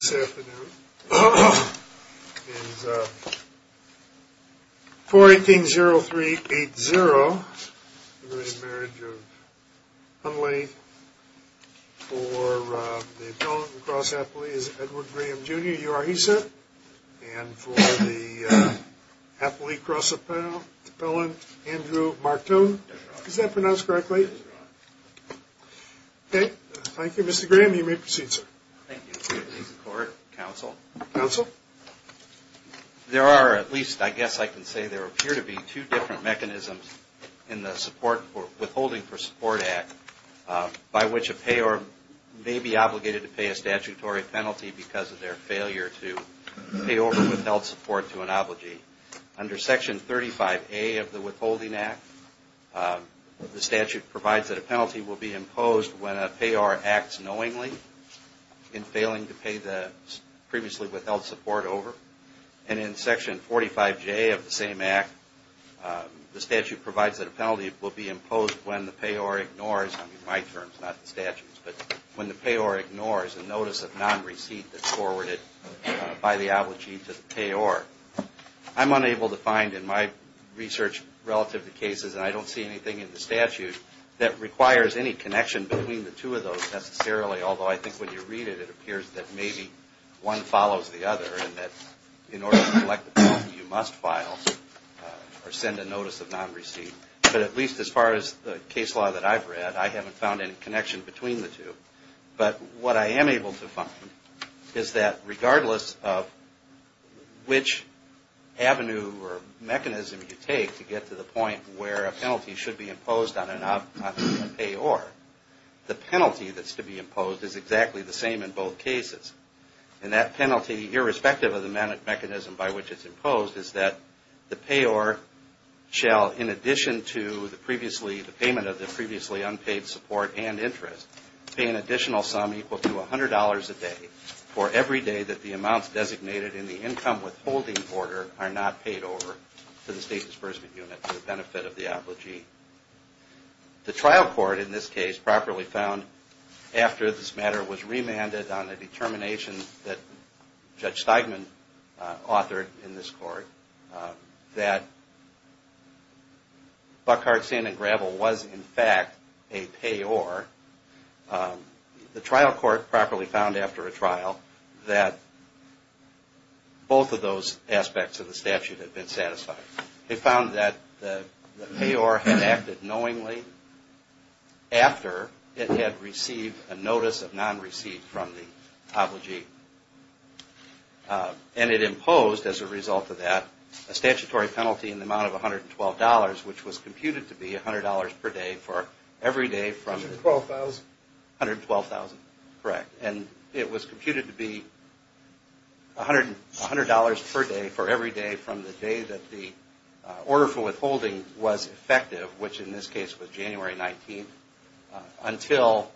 This afternoon is 4-18-0-3-8-0, the re-marriage of Hundley for the appellant and cross-appellee is Edward Graham Jr., you are he, sir? And for the appellee cross-appellant, Andrew Martone. Is that pronounced correctly? Okay. Thank you, Mr. Graham. You may proceed, sir. Thank you, Mr. Court, Counsel. There are at least, I guess I can say there appear to be two different mechanisms in the Support for Withholding for Support Act by which a payer may be obligated to pay a statutory penalty because of their failure to pay over withheld support to an obligee. Under Section 35A of the Withholding Act, the statute provides that a penalty will be imposed when a payer acts knowingly in failing to pay the previously withheld support over. And in Section 45J of the same Act, the statute provides that a penalty will be imposed when the payer ignores, I mean my terms, not the statute's, but when the payer ignores a notice of non-receipt that's forwarded by the obligee to the payer. I'm unable to find in my research relative to cases, and I don't see anything in the statute that requires any connection between the two of those necessarily, although I think when you read it, it appears that maybe one follows the other and that in order to collect a penalty, you must file or send a notice of non-receipt. But at least as far as the case law that I've read, I haven't found any connection between the two. But what I am able to find is that regardless of which avenue or mechanism you take to get to the point where a penalty should be imposed on a payer, the penalty that's to be imposed is exactly the same in both cases. And that penalty, irrespective of the mechanism by which it's imposed, is that the payer shall in addition to the payment of the previously unpaid support and interest, pay an additional sum equal to $100 a day for every day that the amounts designated in the income withholding order are not paid over to the State Disbursement Unit for the benefit of the obligee. The trial court in this case properly found after this matter was remanded on a determination that Judge Steigman authored in this court, that Buckhart, Sand and Gravel was in fact a payer. The trial court properly found after a trial that both of those aspects of the statute had been satisfied. They found that the payer had acted knowingly after it had received a notice of non-receipt from the obligee. And it imposed as a result of that a statutory penalty in the amount of $112, which was computed to be $100 per day for every day from the 12,000. Correct. And it was computed to be $100 per day for every day from the day that the order for withholding was effective, which in this case was January 19th, until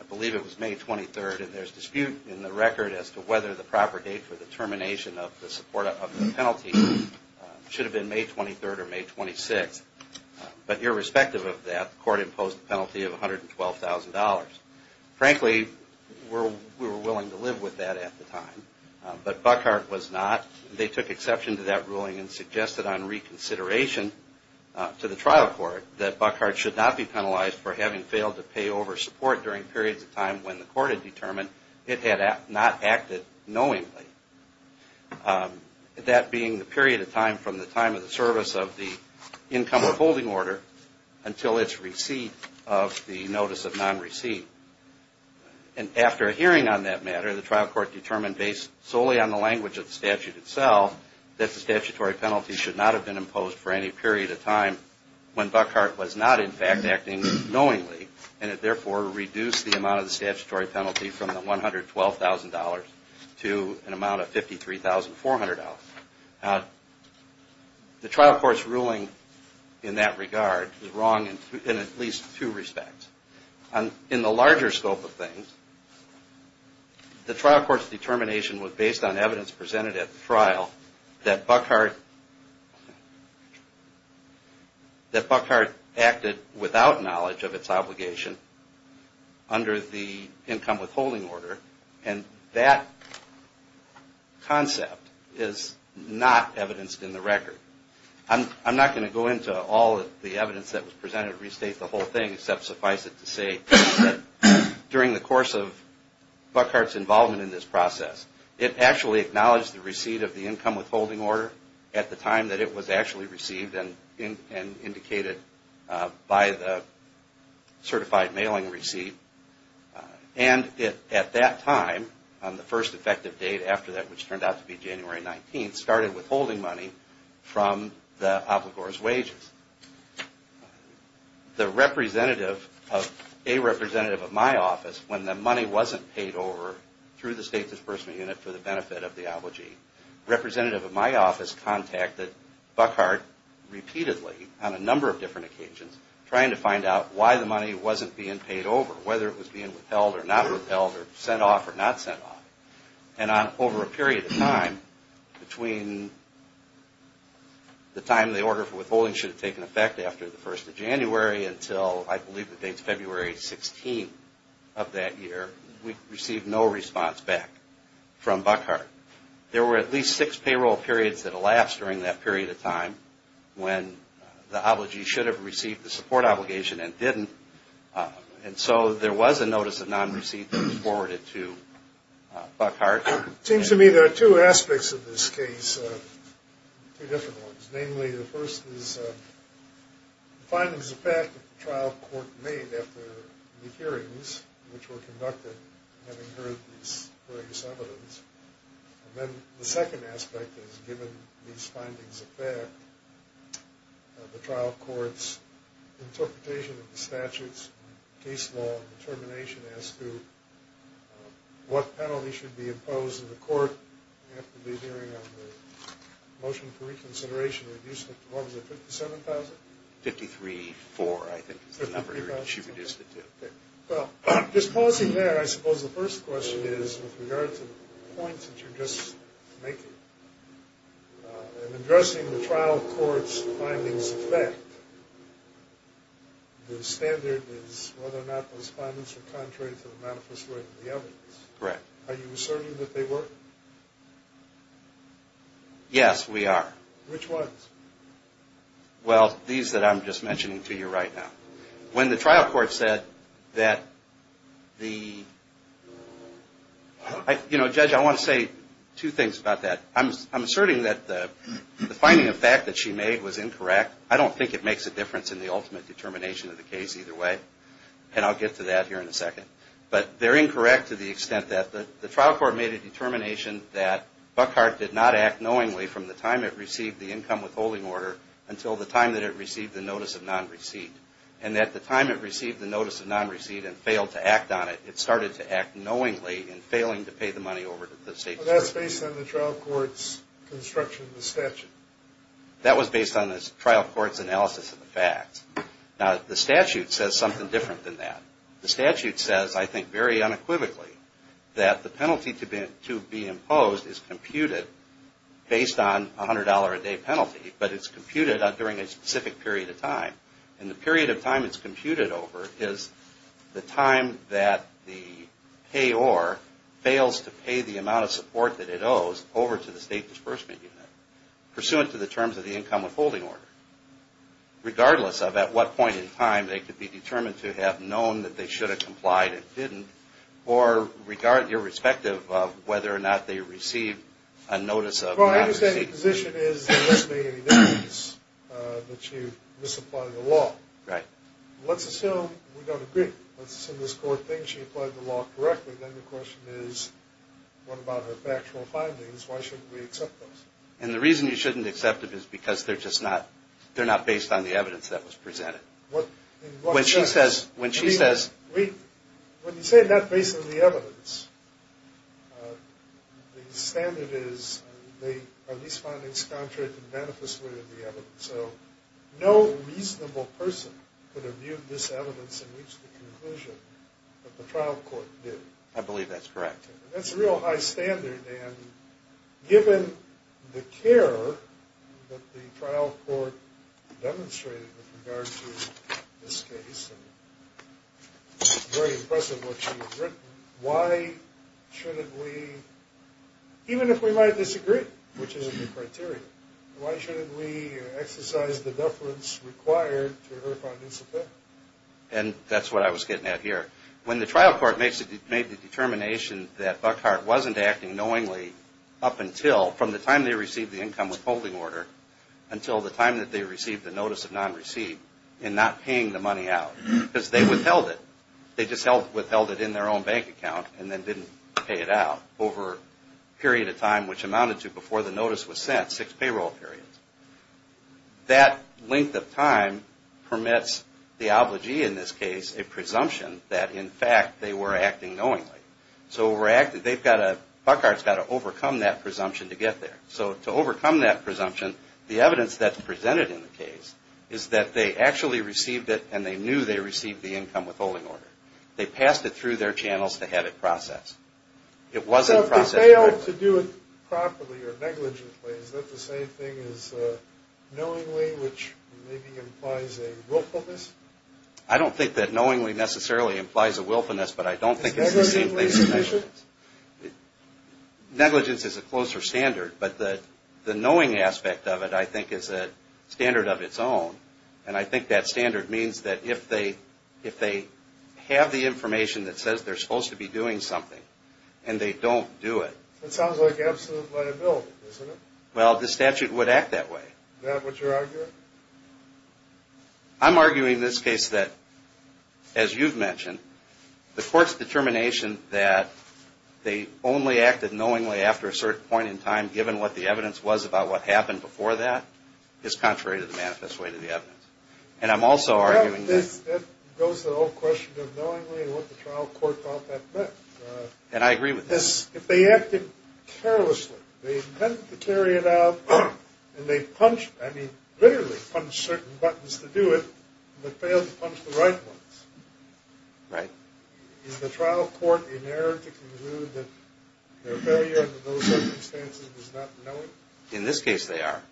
I believe it was May 23rd. And there's dispute in the record as to whether the proper date for the termination of the penalty should have been May 23rd or May 26th. But irrespective of that, the court imposed a penalty of $112,000. Frankly, we were willing to live with that at the time, but Buckhart was not. They took exception to that ruling and suggested on reconsideration to the trial court that Buckhart should not be penalized for having failed to pay over support during periods of time when the court had determined it had not acted knowingly. That being the period of time from the time of the service of the income withholding order until its receipt of the notice of non-receipt. And after a hearing on that matter, the trial court determined based solely on the language of the statute itself that the statutory penalty should not have been imposed for any period of time when Buckhart was not in fact acting knowingly. And it therefore reduced the amount of the statutory penalty from the $112,000 to an amount of $53,400. The trial court's ruling in that regard is wrong in at least two respects. In the larger scope of things, the trial court's determination was based on evidence presented at the trial that Buckhart acted without knowledge of its obligation under the income withholding order. And that concept is not evidenced in the record. I'm not going to go into all of the evidence that was presented to restate the whole thing except suffice it to say that during the course of Buckhart's involvement in this process, it actually acknowledged the receipt of the income by the certified mailing receipt. And at that time, on the first effective date after that, which turned out to be January 19th, started withholding money from the obligor's wages. The representative of a representative of my office, when the money wasn't paid over through the State Disbursement Unit for the benefit of the obligee, representative of my office contacted Buckhart repeatedly on a number of different occasions trying to find out why the money wasn't being paid over, whether it was being withheld or not withheld or sent off or not sent off. And over a period of time, between the time the order for withholding should have taken effect after the 1st of January until I believe the date's February 16th of that year, we received no response back from Buckhart. There were at least six payroll periods that elapsed during that period of time when the obligee should have received the support obligation and didn't. And so there was a notice of non-receipt that was forwarded to Buckhart. It seems to me there are two aspects of this case, two different ones. Namely, the first is the findings of fact that the trial court made after the hearings which were conducted having heard this various evidence. And then the second aspect is, given these findings of fact, the trial court's interpretation of the statutes and case law and determination as to what penalty should be imposed in the court after the hearing on the motion for reconsideration reduced it to, what was it, 57,000? Fifty-three-four, I think is the number. Fifty-three-four. She reduced it to. Okay. Well, just pausing there, I suppose the first question is with regard to the points that you're just making. In addressing the trial court's findings of fact, the standard is whether or not those findings are contrary to the manifest way of the evidence. Correct. Are you asserting that they were? Yes, we are. Which ones? Well, these that I'm just mentioning to you right now. When the trial court said that the, you know, Judge, I want to say two things about that. I'm asserting that the finding of fact that she made was incorrect. I don't think it makes a difference in the ultimate determination of the case either way. And I'll get to that here in a second. But they're incorrect to the extent that the trial court made a determination that Buckhart did not act knowingly from the time it received the income withholding order until the time that it received the notice of non-receipt. And at the time it received the notice of non-receipt and failed to act on it, it started to act knowingly in failing to pay the money over to the state attorney. Well, that's based on the trial court's construction of the statute. That was based on the trial court's analysis of the facts. Now, the statute says something different than that. The statute says, I think very unequivocally, that the penalty to be imposed is computed based on $100 a day penalty, but it's computed during a specific period of time. And the period of time it's computed over is the time that the payor fails to pay the amount of support that it owes over to the state disbursement unit, pursuant to the terms of the income withholding order. Regardless of at what point in time they could be determined to have known that they should have complied and didn't, or irrespective of whether or not they received a notice of non-receipt. Well, my understanding of the position is, unless there's any evidence that she misapplied the law. Right. Let's assume we don't agree. Let's assume this court thinks she applied the law correctly, then the question is, what about her factual findings? Why shouldn't we accept those? And the reason you shouldn't accept it is because they're just not, they're not based on the evidence that was presented. What, in what sense? When you say they're not based on the evidence, the standard is, are these findings contrary to the manifest way of the evidence? So no reasonable person could have viewed this evidence and reached the conclusion that the trial court did. I believe that's correct. That's a real high standard, and given the care that the trial court demonstrated with very impressive what she's written, why shouldn't we, even if we might disagree, which isn't the criteria, why shouldn't we exercise the deference required to her findings of that? And that's what I was getting at here. When the trial court made the determination that Buckhart wasn't acting knowingly up until, from the time they received the income withholding order until the time that they received the notice of non-receipt in not paying the money out, because they withheld it. They just withheld it in their own bank account and then didn't pay it out over a period of time which amounted to before the notice was sent, six payroll periods. That length of time permits the obligee in this case a presumption that in fact they were acting knowingly. So they've got to, Buckhart's got to overcome that presumption to get there. So to overcome that presumption, the evidence that's presented in the case is that they actually received it and they knew they received the income withholding order. They passed it through their channels to have it processed. So if they failed to do it properly or negligently, is that the same thing as knowingly, which maybe implies a willfulness? I don't think that knowingly necessarily implies a willfulness, but I don't think it's the same thing as negligence. Is negligence a condition? Negligence is a closer standard, but the knowing aspect of it I think is a standard of its own, and I think that standard means that if they have the information that says they're supposed to be doing something and they don't do it. That sounds like absolute liability, doesn't it? Well, the statute would act that way. Is that what you're arguing? I'm arguing in this case that, as you've mentioned, the court's determination that they only acted knowingly after a certain point in time given what the evidence was about what happened before that is contrary to the manifest way to the evidence. And I'm also arguing that... That goes to the whole question of knowingly and what the trial court thought that meant. And I agree with that. If they acted carelessly, they intended to carry it out, and they punched, I mean literally punched certain buttons to do it, but failed to punch the right ones. Right. Is the trial court in error to conclude that their failure under those circumstances was not knowingly? In this case, they are.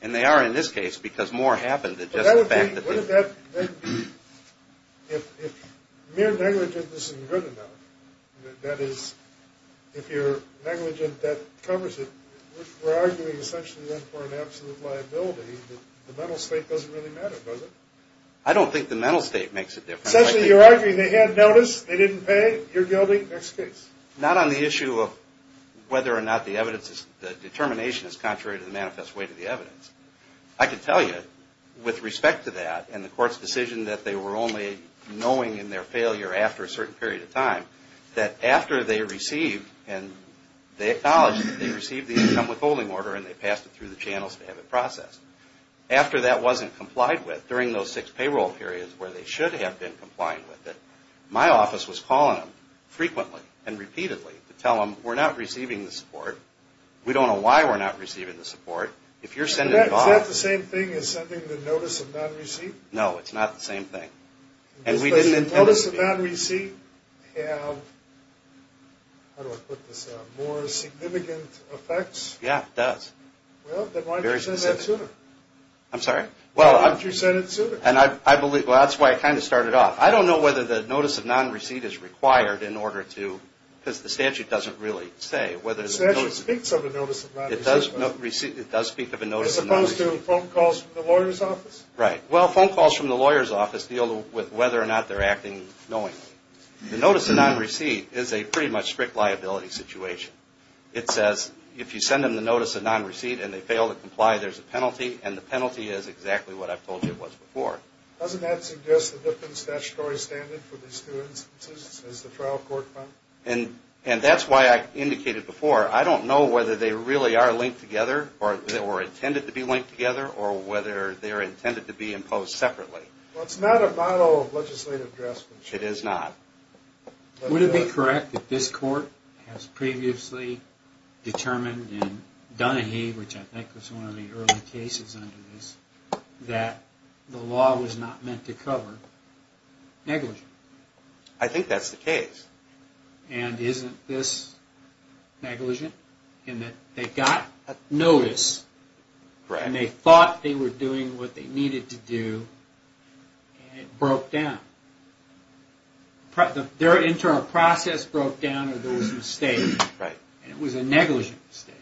And they are in this case because more happened than just the fact that... But that would mean, wouldn't that then be, if mere negligence isn't good enough, that is, if you're negligent that covers it, we're arguing essentially then for an absolute liability that the mental state doesn't really matter, does it? I don't think the mental state makes a difference. Essentially, you're arguing they had notice, they didn't pay, you're guilty, next case. Not on the issue of whether or not the evidence, the determination is contrary to the manifest weight of the evidence. I can tell you, with respect to that and the court's decision that they were only knowing in their failure after a certain period of time, that after they received and they acknowledged that they received the incumbent holding order and they passed it through the channels to have it processed. After that wasn't complied with, during those six payroll periods where they should have been complying with it, my office was calling them frequently and repeatedly to tell them we're not receiving the support, we don't know why we're not receiving the support, if you're sending... Is that the same thing as sending the notice of non-receipt? No, it's not the same thing. And we didn't intend to... Does the notice of non-receipt have, how do I put this, more significant effects? Yeah, it does. Well, then why didn't you send that sooner? I'm sorry? Why didn't you send it sooner? Well, that's why I kind of started off. I don't know whether the notice of non-receipt is required in order to... because the statute doesn't really say whether... The statute speaks of a notice of non-receipt. It does speak of a notice of non-receipt. As opposed to phone calls from the lawyer's office? Right. Well, phone calls from the lawyer's office deal with whether or not they're acting knowingly. The notice of non-receipt is a pretty much strict liability situation. It says if you send them the notice of non-receipt and they fail to comply, there's a penalty, and the penalty is exactly what I've told you it was before. Doesn't that suggest a different statutory standard for these two instances, as the trial court found? And that's why I indicated before, I don't know whether they really are linked together or intended to be linked together, or whether they're intended to be imposed separately. Well, it's not a model of legislative dress. It is not. Would it be correct that this court has previously determined in Donahue, which I think was one of the early cases under this, that the law was not meant to cover negligence? I think that's the case. And isn't this negligent? In that they got a notice, and they thought they were doing what they needed to do, and it broke down. Their internal process broke down, or there was a mistake, and it was a negligent mistake.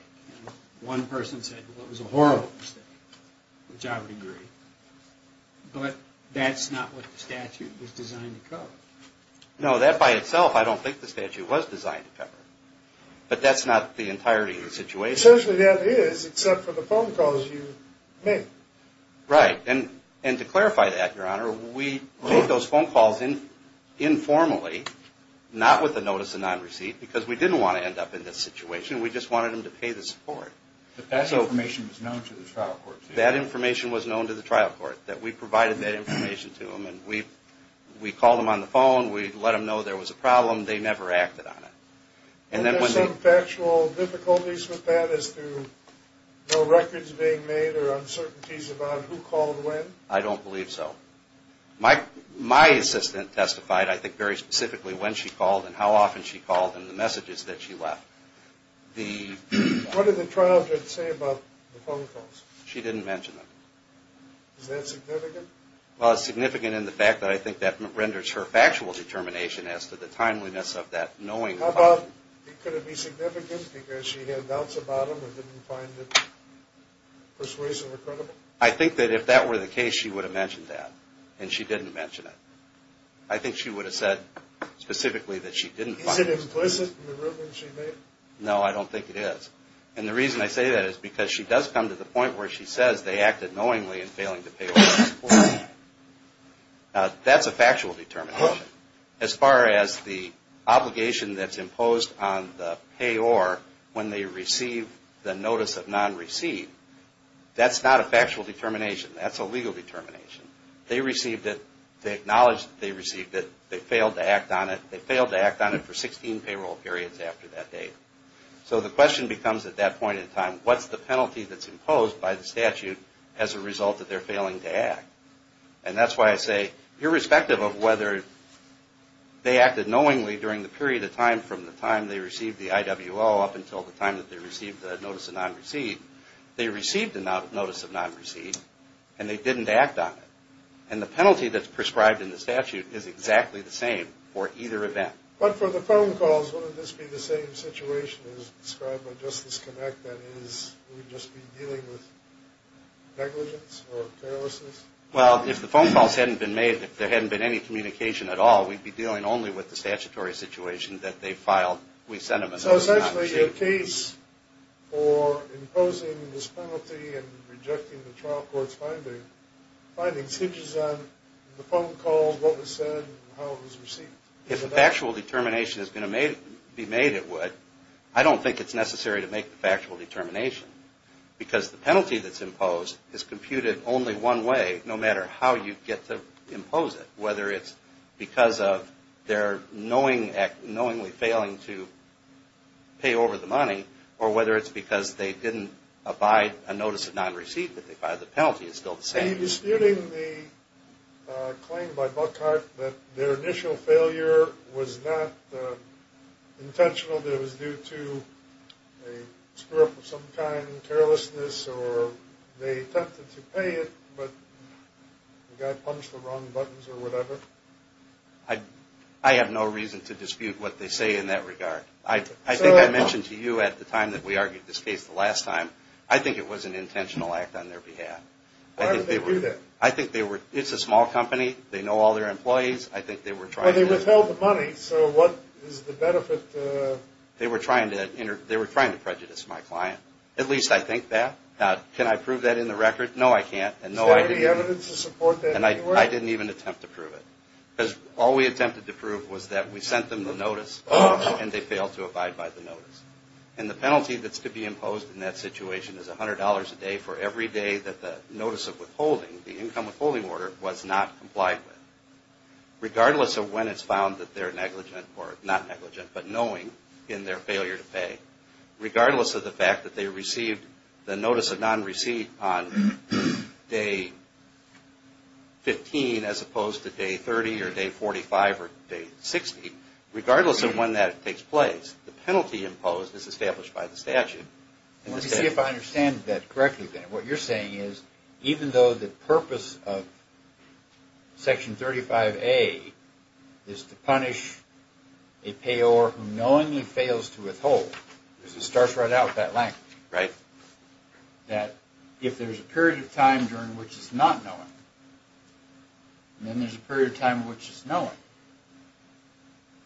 One person said it was a horrible mistake, which I would agree. But that's not what the statute was designed to cover. No, that by itself, I don't think the statute was designed to cover. But that's not the entirety of the situation. Essentially, that is, except for the phone calls you made. Right. And to clarify that, Your Honor, we made those phone calls informally, not with the notice of non-receipt, because we didn't want to end up in this situation. We just wanted them to pay the support. But that information was known to the trial court? That information was known to the trial court, that we provided that information to them. And we called them on the phone. We let them know there was a problem. They never acted on it. And there's some factual difficulties with that as to no records being made or uncertainties about who called when? I don't believe so. My assistant testified, I think, very specifically when she called and how often she called and the messages that she left. What did the trial judge say about the phone calls? She didn't mention them. Is that significant? Well, it's significant in the fact that I think that renders her factual determination as to the timeliness of that knowing. How about, could it be significant because she had doubts about them and didn't find it persuasive or credible? I think that if that were the case, she would have mentioned that. And she didn't mention it. I think she would have said specifically that she didn't find it persuasive. Is it implicit in the ruling she made? No, I don't think it is. And the reason I say that is because she does come to the point where she says they acted knowingly in failing to pay or receive support. Now, that's a factual determination. As far as the obligation that's imposed on the payor when they receive the notice of non-receive, that's not a factual determination. That's a legal determination. They received it. They acknowledged that they received it. They failed to act on it. They failed to act on it for 16 payroll periods after that date. So the question becomes at that point in time, what's the penalty that's imposed by the statute as a result that they're failing to act? And that's why I say, irrespective of whether they acted knowingly during the period of time from the time they received the IWO up until the time that they received the notice of non-receive, they received the notice of non-receive and they didn't act on it. And the penalty that's prescribed in the statute is exactly the same for either event. But for the phone calls, wouldn't this be the same situation as described by Justice Connect? That is, we'd just be dealing with negligence or carelessness? Well, if the phone calls hadn't been made, if there hadn't been any communication at all, we'd be dealing only with the statutory situation that they filed. So essentially the case for imposing this penalty and rejecting the trial court's findings hinges on the phone calls, what was said, and how it was received. If a factual determination is going to be made, it would. I don't think it's necessary to make the factual determination because the penalty that's imposed is computed only one way, no matter how you get to impose it, whether it's because of their knowingly failing to pay over the money or whether it's because they didn't abide a notice of non-receive, but the penalty is still the same. Are you disputing the claim by Buckhart that their initial failure was not intentional, that it was due to a screw-up of some kind, carelessness, or they attempted to pay it, but the guy punched the wrong buttons or whatever? I have no reason to dispute what they say in that regard. I think I mentioned to you at the time that we argued this case the last time, I think it was an intentional act on their behalf. Why would they do that? I think they were – it's a small company, they know all their employees, I think they were trying to – Okay, so what is the benefit? They were trying to prejudice my client. At least I think that. Now, can I prove that in the record? No, I can't. Is there any evidence to support that? And I didn't even attempt to prove it. Because all we attempted to prove was that we sent them the notice and they failed to abide by the notice. And the penalty that's to be imposed in that situation is $100 a day for every day that the notice of withholding, the income withholding order, was not complied with. Regardless of when it's found that they're negligent or not negligent, but knowing in their failure to pay, regardless of the fact that they received the notice of non-receipt on day 15 as opposed to day 30 or day 45 or day 60, regardless of when that takes place, the penalty imposed is established by the statute. Let me see if I understand that correctly then. What you're saying is, even though the purpose of Section 35A is to punish a payor who knowingly fails to withhold, because it starts right out with that language. Right. That if there's a period of time during which it's not knowing, then there's a period of time in which it's knowing.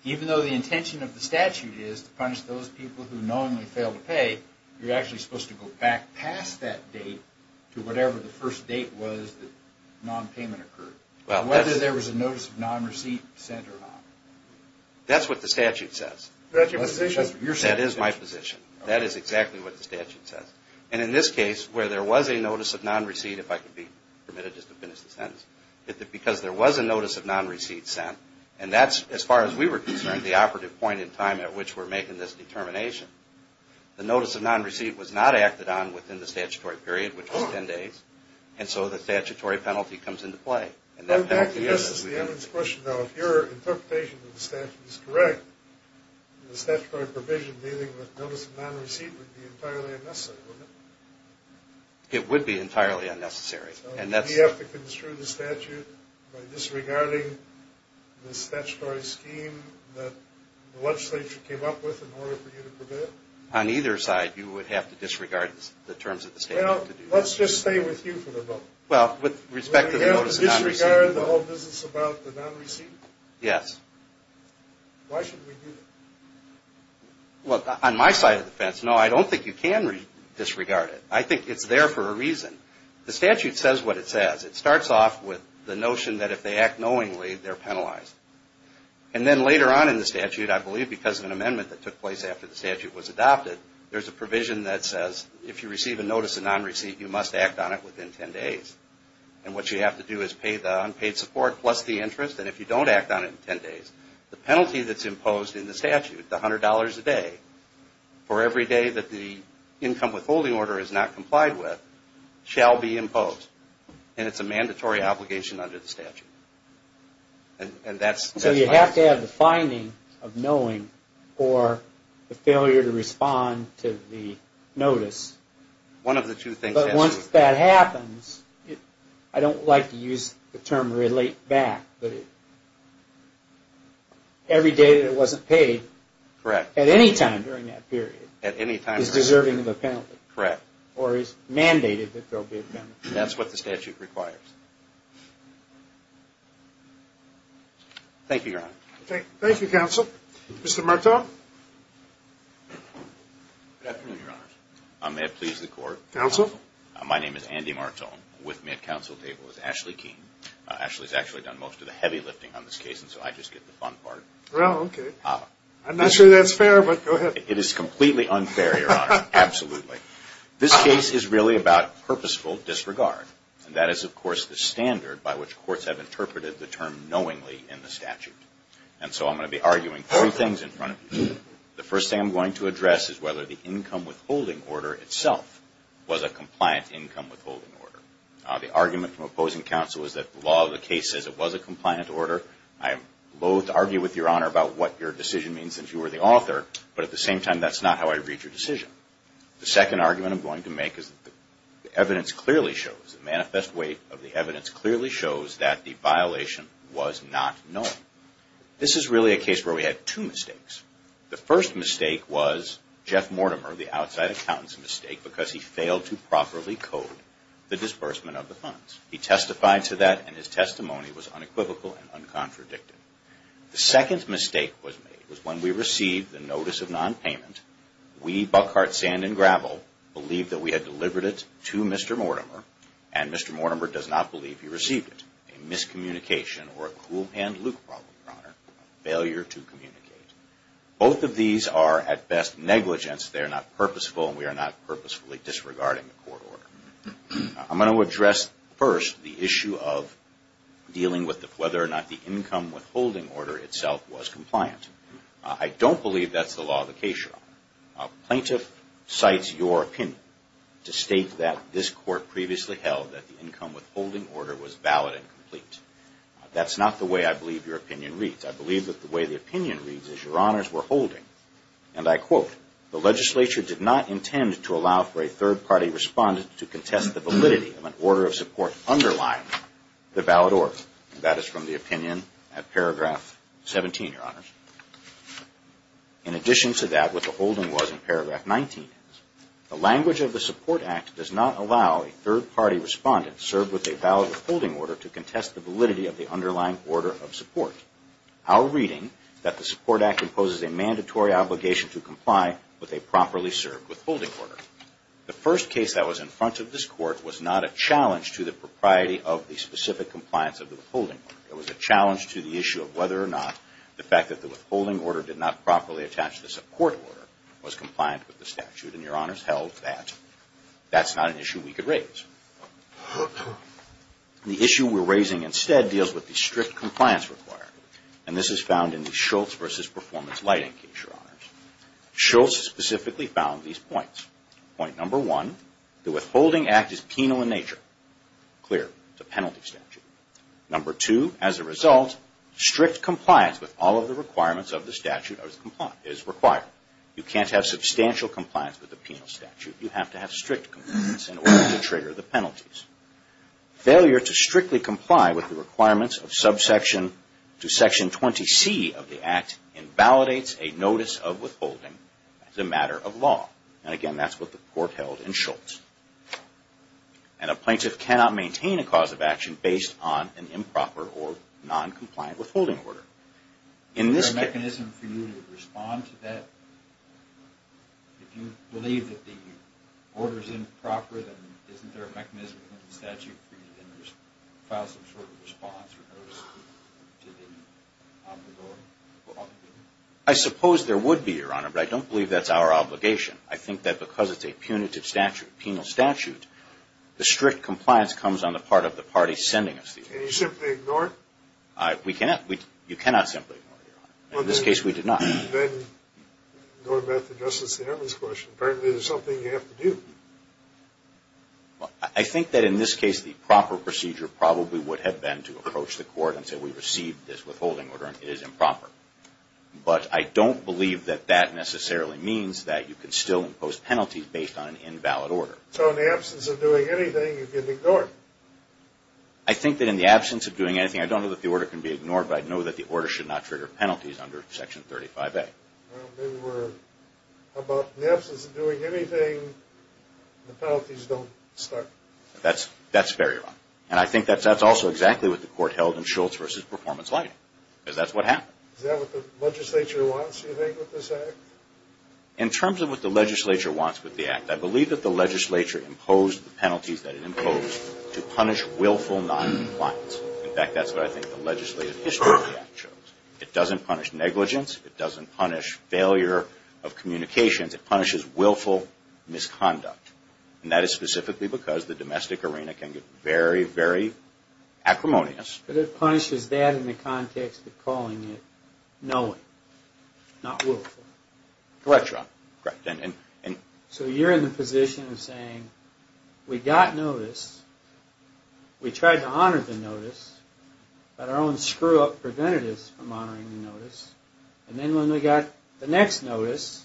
Even though the intention of the statute is to punish those people who knowingly fail to pay, you're actually supposed to go back past that date to whatever the first date was that non-payment occurred. Whether there was a notice of non-receipt sent or not. That's what the statute says. That's your position. That is my position. That is exactly what the statute says. And in this case, where there was a notice of non-receipt, if I could be permitted just to finish the sentence, because there was a notice of non-receipt sent, and that's, as far as we were concerned, the operative point in time at which we're making this determination. The notice of non-receipt was not acted on within the statutory period, which was 10 days, and so the statutory penalty comes into play. And that penalty is what we have. Now, if your interpretation of the statute is correct, the statutory provision dealing with notice of non-receipt would be entirely unnecessary, wouldn't it? It would be entirely unnecessary. You have to construe the statute by disregarding the statutory scheme that the legislature came up with in order for you to prevail? On either side, you would have to disregard the terms of the statute. Well, let's just stay with you for the moment. Well, with respect to the notice of non-receipt. Would we be able to disregard the whole business about the non-receipt? Yes. Why should we do that? Well, on my side of the fence, no, I don't think you can disregard it. I think it's there for a reason. The statute says what it says. It starts off with the notion that if they act knowingly, they're penalized. And then later on in the statute, I believe because of an amendment that took place after the statute was adopted, there's a provision that says if you receive a notice of non-receipt, you must act on it within 10 days. And what you have to do is pay the unpaid support plus the interest, and if you don't act on it in 10 days, the penalty that's imposed in the statute, the $100 a day for every day that the income withholding order is not complied with, shall be imposed. And it's a mandatory obligation under the statute. So you have to have the finding of knowing for the failure to respond to the notice. One of the two things. But once that happens, I don't like to use the term relate back, but every day that it wasn't paid at any time during that period is deserving of a penalty. Correct. Or is mandated that there will be a penalty. That's what the statute requires. Thank you, Your Honor. Thank you, Counsel. Mr. Martone. Good afternoon, Your Honors. May it please the Court. Counsel. My name is Andy Martone. With me at counsel table is Ashley Keene. Ashley's actually done most of the heavy lifting on this case, and so I just get the fun part. Well, okay. I'm not sure that's fair, but go ahead. It is completely unfair, Your Honor. Absolutely. This case is really about purposeful disregard. And that is, of course, the standard by which courts have interpreted the term knowingly in the statute. And so I'm going to be arguing three things in front of you. The first thing I'm going to address is whether the income withholding order itself was a compliant income withholding order. The argument from opposing counsel is that the law of the case says it was a compliant order. I loathe to argue with Your Honor about what your decision means since you were the author, but at the same time that's not how I read your decision. The second argument I'm going to make is that the evidence clearly shows, the manifest weight of the evidence clearly shows that the violation was not known. This is really a case where we had two mistakes. The first mistake was because he failed to properly code the disbursement of the funds. He testified to that and his testimony was unequivocal and uncontradicted. The second mistake was when we received the notice of nonpayment, we, Buckhart, Sand and Gravel, believed that we had delivered it to Mr. Mortimer, and Mr. Mortimer does not believe he received it. A miscommunication or a cool hand Luke problem, Your Honor. A failure to communicate. Both of these are at best negligence. They are not purposeful and we are not purposefully disregarding the court order. I'm going to address first the issue of dealing with whether or not the income withholding order itself was compliant. I don't believe that's the law of the case, Your Honor. A plaintiff cites your opinion to state that this court previously held that the income withholding order was valid and complete. That's not the way I believe your opinion reads. I believe that the way the opinion reads is, Your Honors, we're holding, and I quote, the legislature did not intend to allow for a third party respondent to contest the validity of an order of support underlying the valid order. That is from the opinion at paragraph 17, Your Honors. In addition to that, what the holding was in paragraph 19, the language of the support act does not allow a third party respondent served with a valid withholding order to contest the validity of the underlying order of support. Our reading is that the support act imposes a mandatory obligation to comply with a properly served withholding order. The first case that was in front of this court was not a challenge to the propriety of the specific compliance of the withholding order. It was a challenge to the issue of whether or not the fact that the withholding order did not properly attach to the support order was compliant with the statute. And Your Honors held that that's not an issue we could raise. The issue we're raising instead deals with the strict compliance requirement. And this is found in the Schultz v. Performance Lighting case, Your Honors. Schultz specifically found these points. Point number one, the withholding act is penal in nature. Clear. It's a penalty statute. Number two, as a result, strict compliance with all of the requirements of the statute is required. You can't have substantial compliance with the penal statute. You have to have strict compliance in order to trigger the penalties. Failure to strictly comply with the requirements of subsection to section 20C of the act invalidates a notice of withholding as a matter of law. And again, that's what the court held in Schultz. And a plaintiff cannot maintain a cause of action based on an improper or noncompliant withholding order. Is there a mechanism for you to respond to that? If you believe that the order is improper, then isn't there a mechanism in the statute for you to file some sort of response or notice to the offender? I suppose there would be, Your Honor, but I don't believe that's our obligation. I think that because it's a punitive statute, a penal statute, the strict compliance comes on the part of the party sending us the order. Can you simply ignore it? We cannot. You cannot simply ignore it, Your Honor. In this case, we did not. Then going back to Justice Ehrman's question, apparently there's something you have to do. I think that in this case the proper procedure probably would have been to approach the court and say we received this withholding order and it is improper. But I don't believe that that necessarily means that you can still impose penalties based on an invalid order. So in the absence of doing anything, you can ignore it? I think that in the absence of doing anything, I don't know that the order can be ignored, but I know that the order should not trigger penalties under Section 35A. How about in the absence of doing anything, the penalties don't start? That's very wrong. And I think that's also exactly what the court held in Schultz v. Performance Lighting, because that's what happened. Is that what the legislature wants, do you think, with this act? In terms of what the legislature wants with the act, I believe that the legislature imposed the penalties that it imposed to punish willful noncompliance. In fact, that's what I think the legislative history of the act shows. It doesn't punish negligence. It doesn't punish failure of communications. It punishes willful misconduct. And that is specifically because the domestic arena can get very, very acrimonious. But it punishes that in the context of calling it knowing, not willful. Correct, Your Honor. So you're in the position of saying we got notice, we tried to honor the notice, but our own screw-up prevented us from honoring the notice, and then when we got the next notice,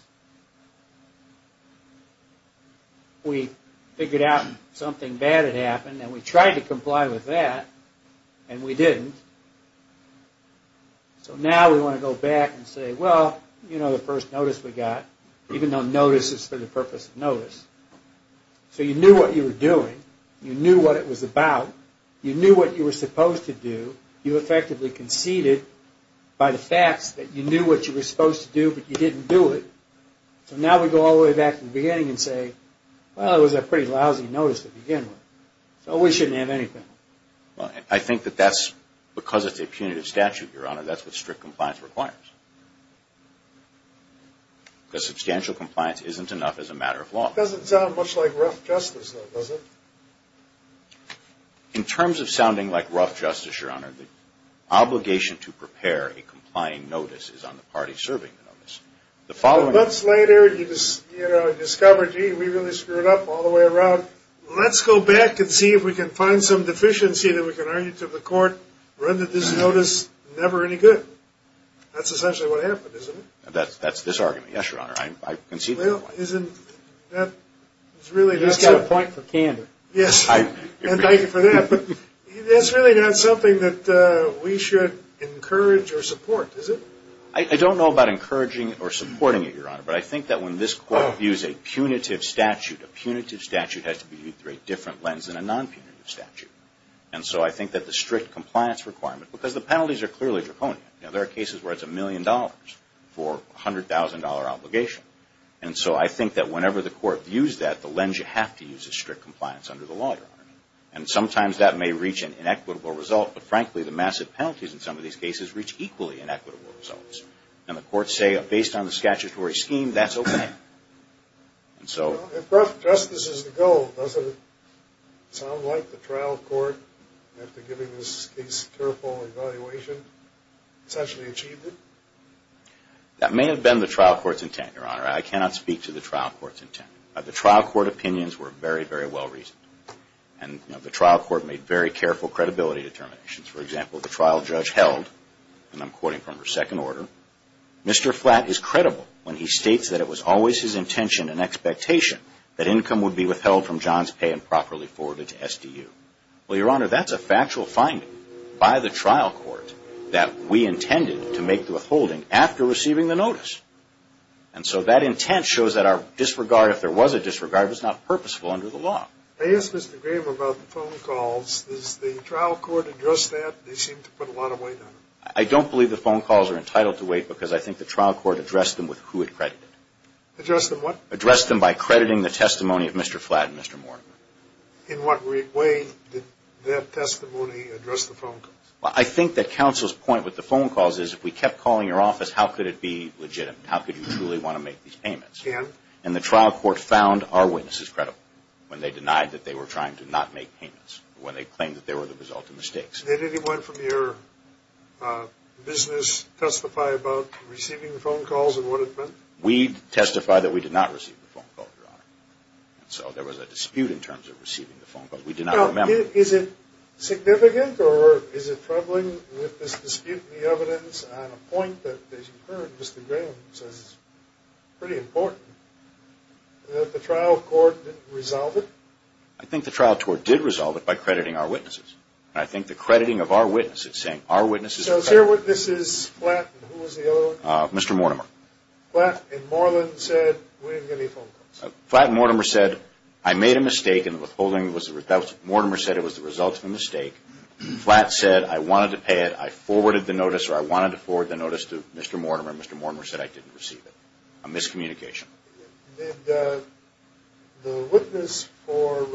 we figured out something bad had happened, and we tried to comply with that, and we didn't. So now we want to go back and say, well, you know, the first notice we got, even though notice is for the purpose of notice. So you knew what you were doing. You knew what it was about. You knew what you were supposed to do. You effectively conceded by the facts that you knew what you were supposed to do, but you didn't do it. So now we go all the way back to the beginning and say, well, it was a pretty lousy notice to begin with, so we shouldn't have any penalties. I think that that's because it's a punitive statute, Your Honor. That's what strict compliance requires, because substantial compliance isn't enough as a matter of law. It doesn't sound much like rough justice, though, does it? In terms of sounding like rough justice, Your Honor, the obligation to prepare a complying notice is on the party serving the notice. Months later, you discover, gee, we really screwed up all the way around. Let's go back and see if we can find some deficiency that we can argue to the court, render this notice never any good. That's essentially what happened, isn't it? That's this argument, yes, Your Honor. Well, isn't that really not something? He's got a point for candor. Yes, and thank you for that. But that's really not something that we should encourage or support, is it? I don't know about encouraging or supporting it, Your Honor, but I think that when this Court views a punitive statute, a punitive statute has to be viewed through a different lens than a non-punitive statute. And so I think that the strict compliance requirement, because the penalties are clearly draconian. There are cases where it's a million dollars for a $100,000 obligation. And so I think that whenever the Court views that, the lens you have to use is strict compliance under the law, Your Honor. And sometimes that may reach an inequitable result, but frankly, the massive penalties in some of these cases reach equally inequitable results. And the Courts say, based on the statutory scheme, that's okay. If justice is the goal, doesn't it sound like the trial court, after giving this case a careful evaluation, essentially achieved it? That may have been the trial court's intent, Your Honor. I cannot speak to the trial court's intent. The trial court opinions were very, very well reasoned. And the trial court made very careful credibility determinations. For example, the trial judge held, and I'm quoting from her second order, Mr. Flatt is credible when he states that it was always his intention and expectation that income would be withheld from John's pay and properly forwarded to SDU. Well, Your Honor, that's a factual finding by the trial court that we intended to make the withholding after receiving the notice. And so that intent shows that our disregard, if there was a disregard, was not purposeful under the law. I asked Mr. Graber about the phone calls. Does the trial court address that? They seem to put a lot of weight on it. I don't believe the phone calls are entitled to weight because I think the trial court addressed them with who it credited. Addressed them what? Addressed them by crediting the testimony of Mr. Flatt and Mr. Morgan. In what way did that testimony address the phone calls? Well, I think that counsel's point with the phone calls is if we kept calling your office, how could it be legitimate? How could you truly want to make these payments? And? And the trial court found our witnesses credible when they denied that they were trying to not make payments, when they claimed that they were the result of mistakes. Did anyone from your business testify about receiving the phone calls and what it meant? We testified that we did not receive the phone call, Your Honor. And so there was a dispute in terms of receiving the phone calls. We did not remember. Now, is it significant or is it troubling with this dispute, the evidence on a point that, as you heard, Mr. Graham says is pretty important, that the trial court didn't resolve it? I think the trial court did resolve it by crediting our witnesses. And I think the crediting of our witnesses, saying our witnesses. So it's your witnesses, Flatt and who was the other one? Mr. Mortimer. Flatt and Mortimer said we didn't get any phone calls. Flatt and Mortimer said I made a mistake and the withholding was the result. Mortimer said it was the result of a mistake. Flatt said I wanted to pay it. I forwarded the notice or I wanted to forward the notice to Mr. Mortimer, and Mr. Mortimer said I didn't receive it. A miscommunication. Did the witness for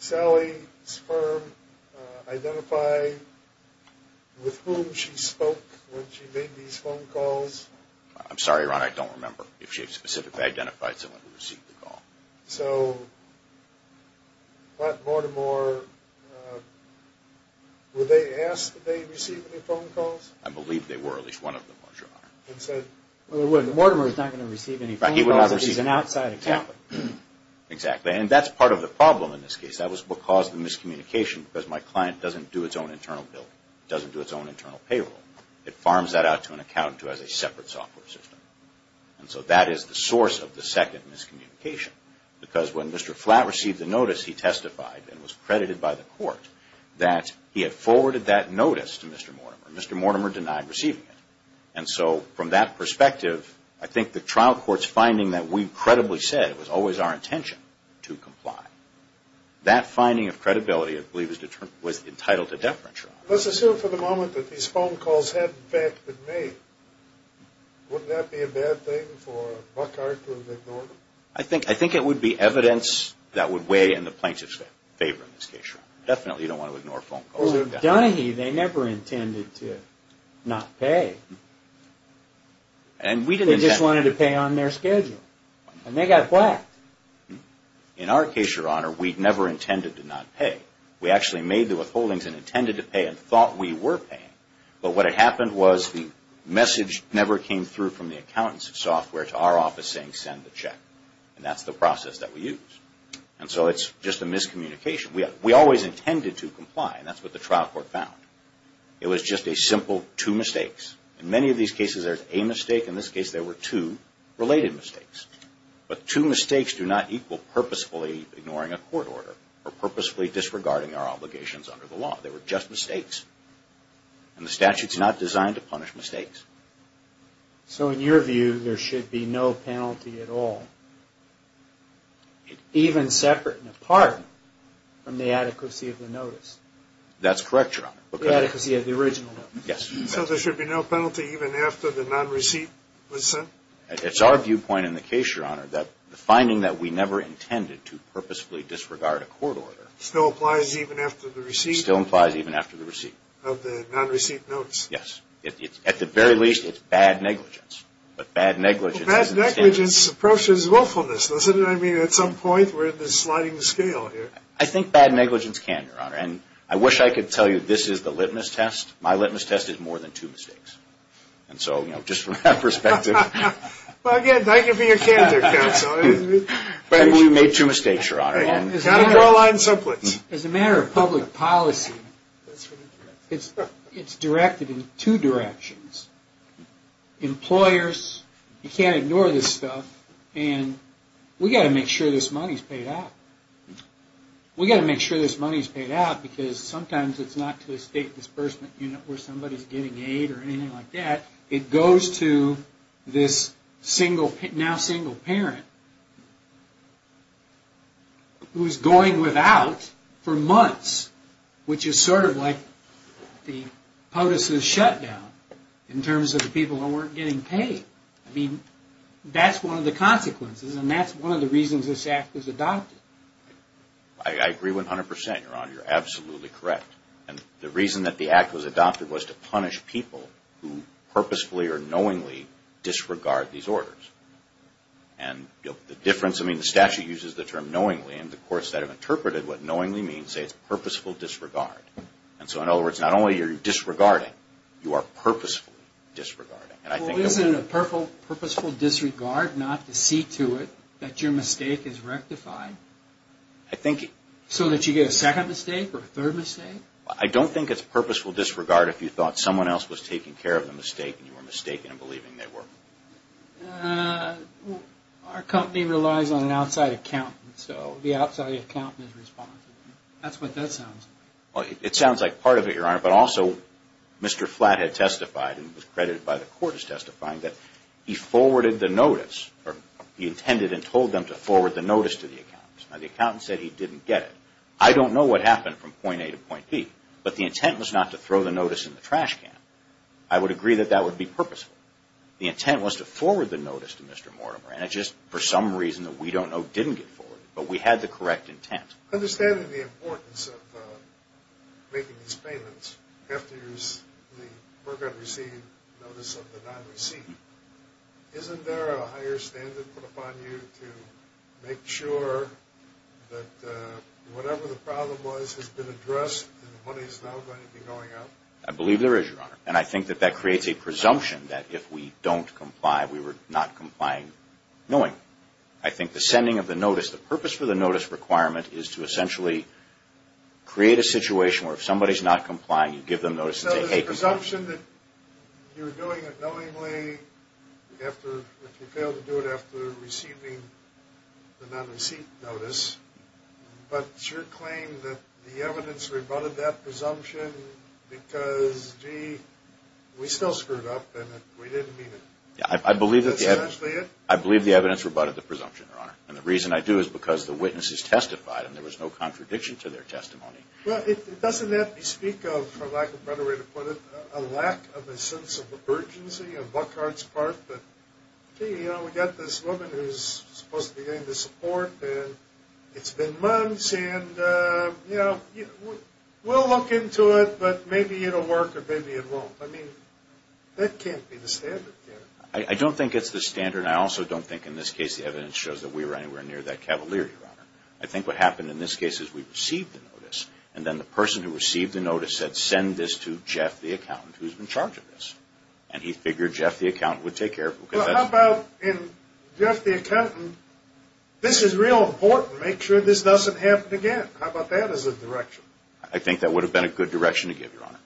Sally's firm identify with whom she spoke when she made these phone calls? I'm sorry, Ron, I don't remember. If she specifically identified someone who received the call. So Flatt and Mortimer, were they asked if they received any phone calls? I believe they were, at least one of them was, Your Honor. Mortimer is not going to receive any phone calls. He's an outside accountant. Exactly, and that's part of the problem in this case. That was because of the miscommunication, because my client doesn't do its own internal billing, doesn't do its own internal payroll. It farms that out to an accountant who has a separate software system. So that is the source of the second miscommunication, because when Mr. Flatt received the notice, he testified and was credited by the court that he had forwarded that notice to Mr. Mortimer, and Mr. Mortimer denied receiving it. And so from that perspective, I think the trial court's finding that we credibly said it was always our intention to comply, that finding of credibility I believe was entitled to deference, Your Honor. Let's assume for the moment that these phone calls had in fact been made. Wouldn't that be a bad thing for Buckhart to have ignored them? I think it would be evidence that would weigh in the plaintiff's favor in this case, Your Honor. Definitely you don't want to ignore phone calls. Because of Dunahee, they never intended to not pay. They just wanted to pay on their schedule. And they got blacked. In our case, Your Honor, we never intended to not pay. We actually made the withholdings and intended to pay and thought we were paying. But what had happened was the message never came through from the accountant's software to our office saying send the check. And that's the process that we use. And so it's just a miscommunication. We always intended to comply, and that's what the trial court found. It was just a simple two mistakes. In many of these cases, there's a mistake. In this case, there were two related mistakes. But two mistakes do not equal purposefully ignoring a court order or purposefully disregarding our obligations under the law. They were just mistakes. And the statute's not designed to punish mistakes. So in your view, there should be no penalty at all? Even separate and apart from the adequacy of the notice. That's correct, Your Honor. The adequacy of the original notice. Yes. So there should be no penalty even after the non-receipt was sent? It's our viewpoint in the case, Your Honor, that the finding that we never intended to purposefully disregard a court order. Still applies even after the receipt? Still applies even after the receipt. Of the non-receipt notice. Yes. At the very least, it's bad negligence. But bad negligence approaches willfulness, doesn't it? I mean, at some point, we're in this sliding scale here. I think bad negligence can, Your Honor. And I wish I could tell you this is the litmus test. My litmus test is more than two mistakes. And so, you know, just from that perspective. Well, again, thank you for your candor, Counsel. But we made two mistakes, Your Honor. It's not a draw line subplot. As a matter of public policy, it's directed in two directions. Employers, you can't ignore this stuff. And we've got to make sure this money's paid out. We've got to make sure this money's paid out. Because sometimes it's not to the State Disbursement Unit where somebody's getting aid or anything like that. It goes to this now single parent. Who's going without for months. Which is sort of like the POTUS's shutdown. In terms of the people who weren't getting paid. I mean, that's one of the consequences. And that's one of the reasons this Act was adopted. I agree 100%, Your Honor. You're absolutely correct. And the reason that the Act was adopted was to punish people who purposefully or knowingly disregard these orders. And the difference, I mean, the statute uses the term knowingly. And the courts that have interpreted what knowingly means say it's purposeful disregard. And so, in other words, not only are you disregarding, you are purposefully disregarding. Well, isn't it a purposeful disregard not to see to it that your mistake is rectified? I think... So that you get a second mistake or a third mistake? I don't think it's purposeful disregard if you thought someone else was taking care of the mistake and you were mistaken in believing they were. Our company relies on an outside accountant. So the outside accountant is responsible. That's what that sounds like. It sounds like part of it, Your Honor. But also, Mr. Flathead testified, and was credited by the court as testifying, that he forwarded the notice, or he intended and told them to forward the notice to the accountant. Now, the accountant said he didn't get it. I don't know what happened from point A to point B, but the intent was not to throw the notice in the trash can. I would agree that that would be purposeful. The intent was to forward the notice to Mr. Mortimer, and it just, for some reason that we don't know, didn't get forwarded. But we had the correct intent. Understanding the importance of making these payments, after you have received the notice of the non-receipt, isn't there a higher standard put upon you to make sure that whatever the problem was has been addressed and the money is now going to be going out? I believe there is, Your Honor. And I think that that creates a presumption that if we don't comply, we were not complying knowing. I think the sending of the notice, the purpose for the notice requirement is to essentially create a situation where if somebody is not complying, you give them notice and say, Hey, keep going. So there's a presumption that you're doing it knowingly if you fail to do it after receiving the non-receipt notice, but it's your claim that the evidence rebutted that presumption because, gee, we still screwed up and we didn't mean it. I believe the evidence rebutted the presumption, Your Honor. And the reason I do is because the witnesses testified and there was no contradiction to their testimony. Well, doesn't that bespeak of, for lack of a better way to put it, a lack of a sense of urgency on Buckhart's part that, gee, we've got this woman who's supposed to be getting the support and it's been months and we'll look into it, but maybe it will work or maybe it won't. I mean, that can't be the standard, can it? I don't think it's the standard and I also don't think in this case the evidence shows that we were anywhere near that cavalier, Your Honor. I think what happened in this case is we received the notice and then the person who received the notice said, Send this to Jeff, the accountant, who's in charge of this. And he figured Jeff, the accountant, would take care of it. Well, how about in Jeff, the accountant, this is real important to make sure this doesn't happen again. How about that as a direction? I think that would have been a good direction to give, Your Honor.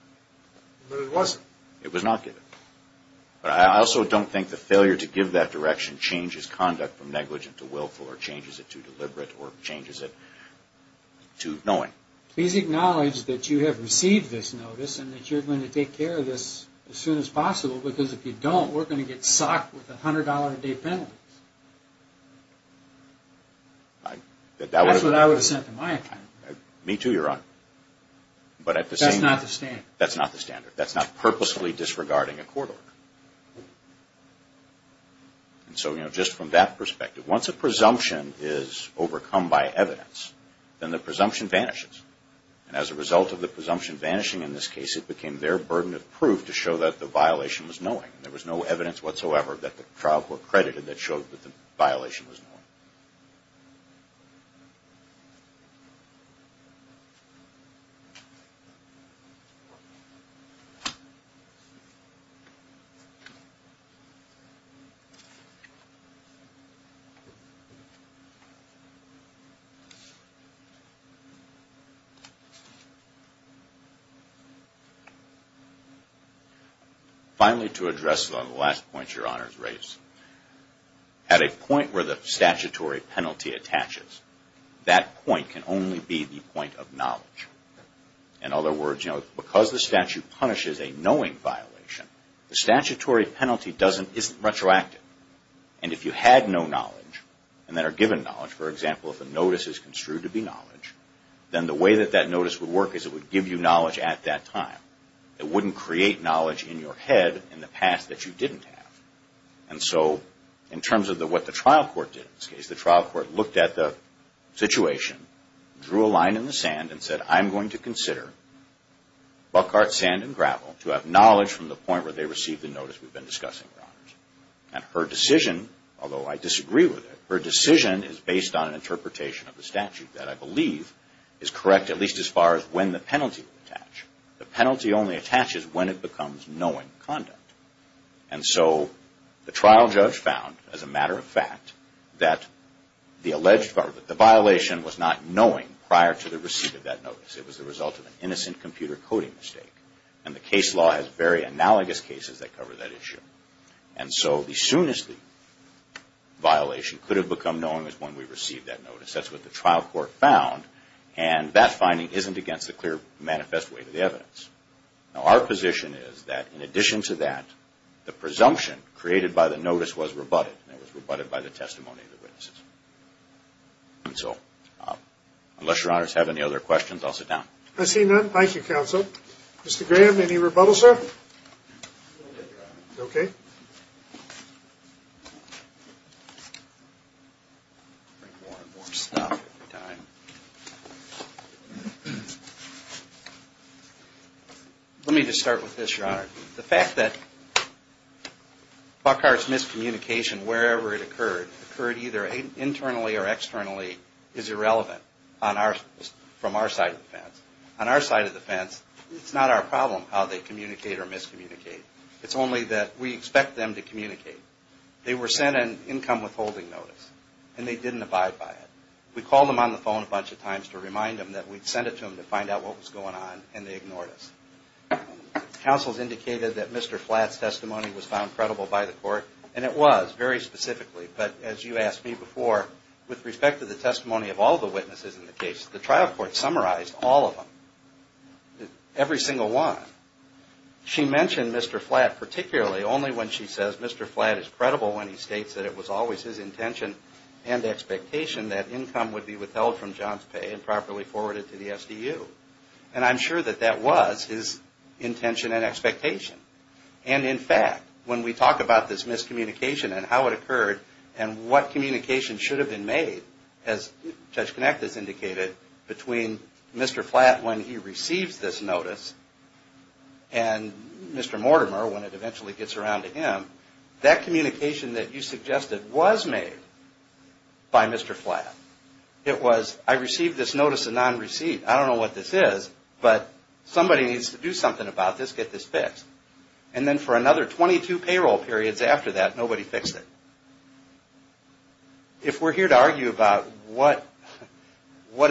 But it wasn't. It was not given. But I also don't think the failure to give that direction changes conduct from negligent to willful or changes it to deliberate or changes it to knowing. Please acknowledge that you have received this notice and that you're going to take care of this as soon as possible because if you don't, we're going to get socked with $100 a day penalties. That's what I would have sent to my accountant. Me too, Your Honor. That's not the standard. That's not purposefully disregarding a court order. And so just from that perspective, once a presumption is overcome by evidence, then the presumption vanishes. And as a result of the presumption vanishing in this case, it became their burden of proof to show that the violation was knowing. There was no evidence whatsoever that the trial court credited that showed that the violation was knowing. Finally, to address the last point Your Honor has raised, at a point where the statutory penalty attaches, that point can only be the point of knowledge. In other words, because the statute punishes a knowing violation, the statutory penalty isn't retroactive. And if you had no knowledge and then are given knowledge, for example, if a notice is construed to be knowledge, then the way that that notice would work is it would give you knowledge at that time. It wouldn't create knowledge in your head in the past that you didn't have. And so in terms of what the trial court did in this case, the trial court looked at the situation, drew a line in the sand and said, I'm going to consider Buckhart's sand and gravel to have knowledge from the point where they received the notice we've been discussing, Your Honors. And her decision, although I disagree with it, her decision is based on an interpretation of the statute that I believe is correct, at least as far as when the penalty would attach. The penalty only attaches when it becomes knowing conduct. And so the trial judge found, as a matter of fact, that the violation was not knowing prior to the receipt of that notice. It was the result of an innocent computer coding mistake. And the case law has very analogous cases that cover that issue. And so as soon as the violation could have become knowing is when we received that notice. That's what the trial court found. And that finding isn't against the clear manifest way to the evidence. Now, our position is that in addition to that, the presumption created by the notice was rebutted. And it was rebutted by the testimony of the witnesses. And so unless Your Honors have any other questions, I'll sit down. I see none. Thank you, Counsel. Mr. Graham, any rebuttal, sir? Let me just start with this, Your Honor. The fact that Buckhart's miscommunication, wherever it occurred, occurred either internally or externally, is irrelevant from our side of the fence. On our side of the fence, it's not our problem how they communicate or miscommunicate. It's only that we expect them to communicate. They were sent an income withholding notice, and they didn't abide by it. We called them on the phone a bunch of times to remind them that we'd sent it to them to find out what was going on, and they ignored us. Counsel's indicated that Mr. Flatt's testimony was found credible by the court, and it was, very specifically. But as you asked me before, with respect to the testimony of all the witnesses in the case, the trial court summarized all of them, every single one. She mentioned Mr. Flatt particularly only when she says Mr. Flatt is credible when he states that it was always his intention and expectation that income would be withheld from John's pay and properly forwarded to the SDU. And I'm sure that that was his intention and expectation. And in fact, when we talk about this miscommunication and how it occurred, and what communication should have been made, as Judge Kinect has indicated, between Mr. Flatt when he receives this notice and Mr. Mortimer when it eventually gets around to him, that communication that you suggested was made by Mr. Flatt. It was, I received this notice of non-receipt. I don't know what this is, but somebody needs to do something about this, get this fixed. And then for another 22 payroll periods after that, nobody fixed it. If we're here to argue about what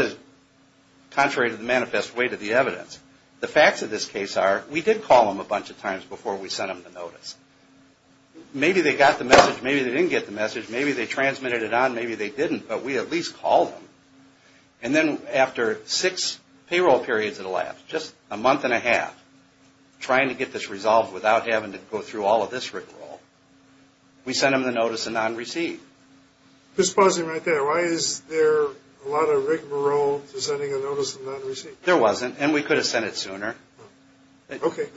is contrary to the manifest way to the evidence, the facts of this case are, we did call them a bunch of times before we sent them the notice. Maybe they got the message, maybe they didn't get the message, maybe they transmitted it on, maybe they didn't, but we at least called them. And then after six payroll periods in a lap, just a month and a half, trying to get this resolved without having to go through all of this rigmarole, we sent them the notice of non-receipt. Just pausing right there, why is there a lot of rigmarole to sending a notice of non-receipt? There wasn't, and we could have sent it sooner.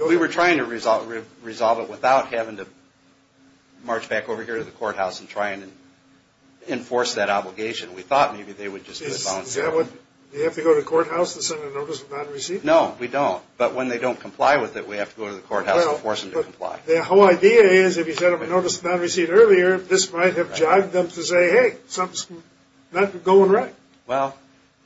We were trying to resolve it without having to march back over here to the courthouse and try and enforce that obligation. We thought maybe they would just disbalance it. Do you have to go to the courthouse to send a notice of non-receipt? No, we don't. But when they don't comply with it, we have to go to the courthouse to force them to comply. The whole idea is if you sent them a notice of non-receipt earlier, this might have jogged them to say, hey, something's not going right. Well,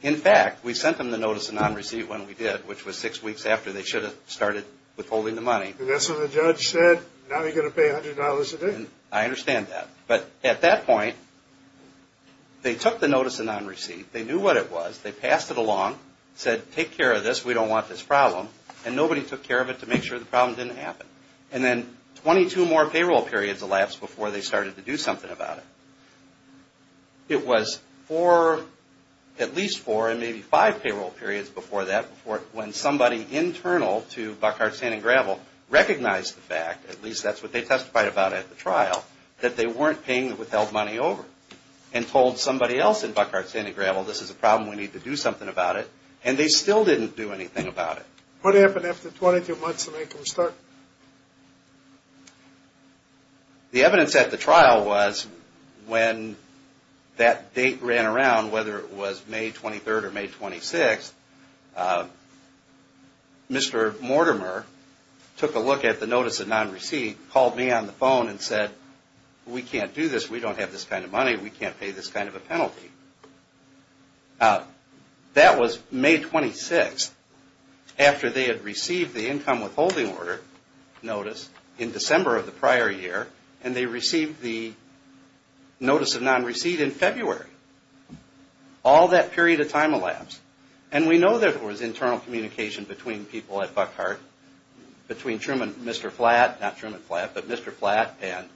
in fact, we sent them the notice of non-receipt when we did, which was six weeks after they should have started withholding the money. And that's when the judge said, now you're going to pay $100 a day. And I understand that. But at that point, they took the notice of non-receipt. They knew what it was. They passed it along, said, take care of this. We don't want this problem. And nobody took care of it to make sure the problem didn't happen. And then 22 more payroll periods elapsed before they started to do something about it. It was four, at least four, and maybe five payroll periods before that, when somebody internal to Buckhart Sand and Gravel recognized the fact, at least that's what they testified about at the trial, that they weren't paying the withheld money over and told somebody else in Buckhart Sand and Gravel, this is a problem, we need to do something about it. And they still didn't do anything about it. What happened after 22 months to make them start? The evidence at the trial was when that date ran around, whether it was May 23rd or May 26th, Mr. Mortimer took a look at the notice of non-receipt, called me on the phone and said, we can't do this. We don't have this kind of money. We can't pay this kind of a penalty. That was May 26th, after they had received the income withholding order notice in December of the prior year, and they received the notice of non-receipt in February. All that period of time elapsed. And we know there was internal communication between people at Buckhart, between Truman, Mr. Flatt, not Truman Flatt, but Mr. Flatt and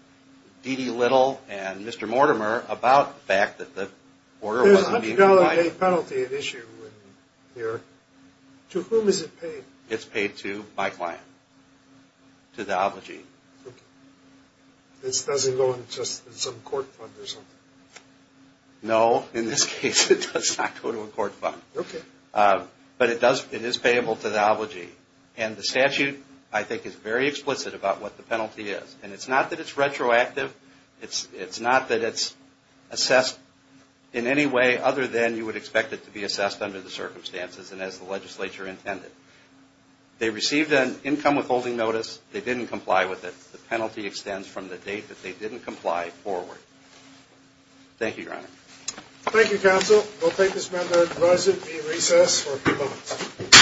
D.D. Little and Mr. Mortimer about the fact that the order was being provided. There's a $100 penalty at issue here. To whom is it paid? It's paid to my client, to the obligee. Okay. This doesn't go into some court fund or something? No, in this case it does not go to a court fund. Okay. But it is payable to the obligee. And the statute, I think, is very explicit about what the penalty is. And it's not that it's retroactive. It's not that it's assessed in any way other than you would expect it to be assessed under the circumstances and as the legislature intended. They received an income withholding notice. They didn't comply with it. The penalty extends from the date that they didn't comply forward. Thank you, Your Honor. Thank you, counsel. We'll take this matter and advise it to be in recess for a few moments.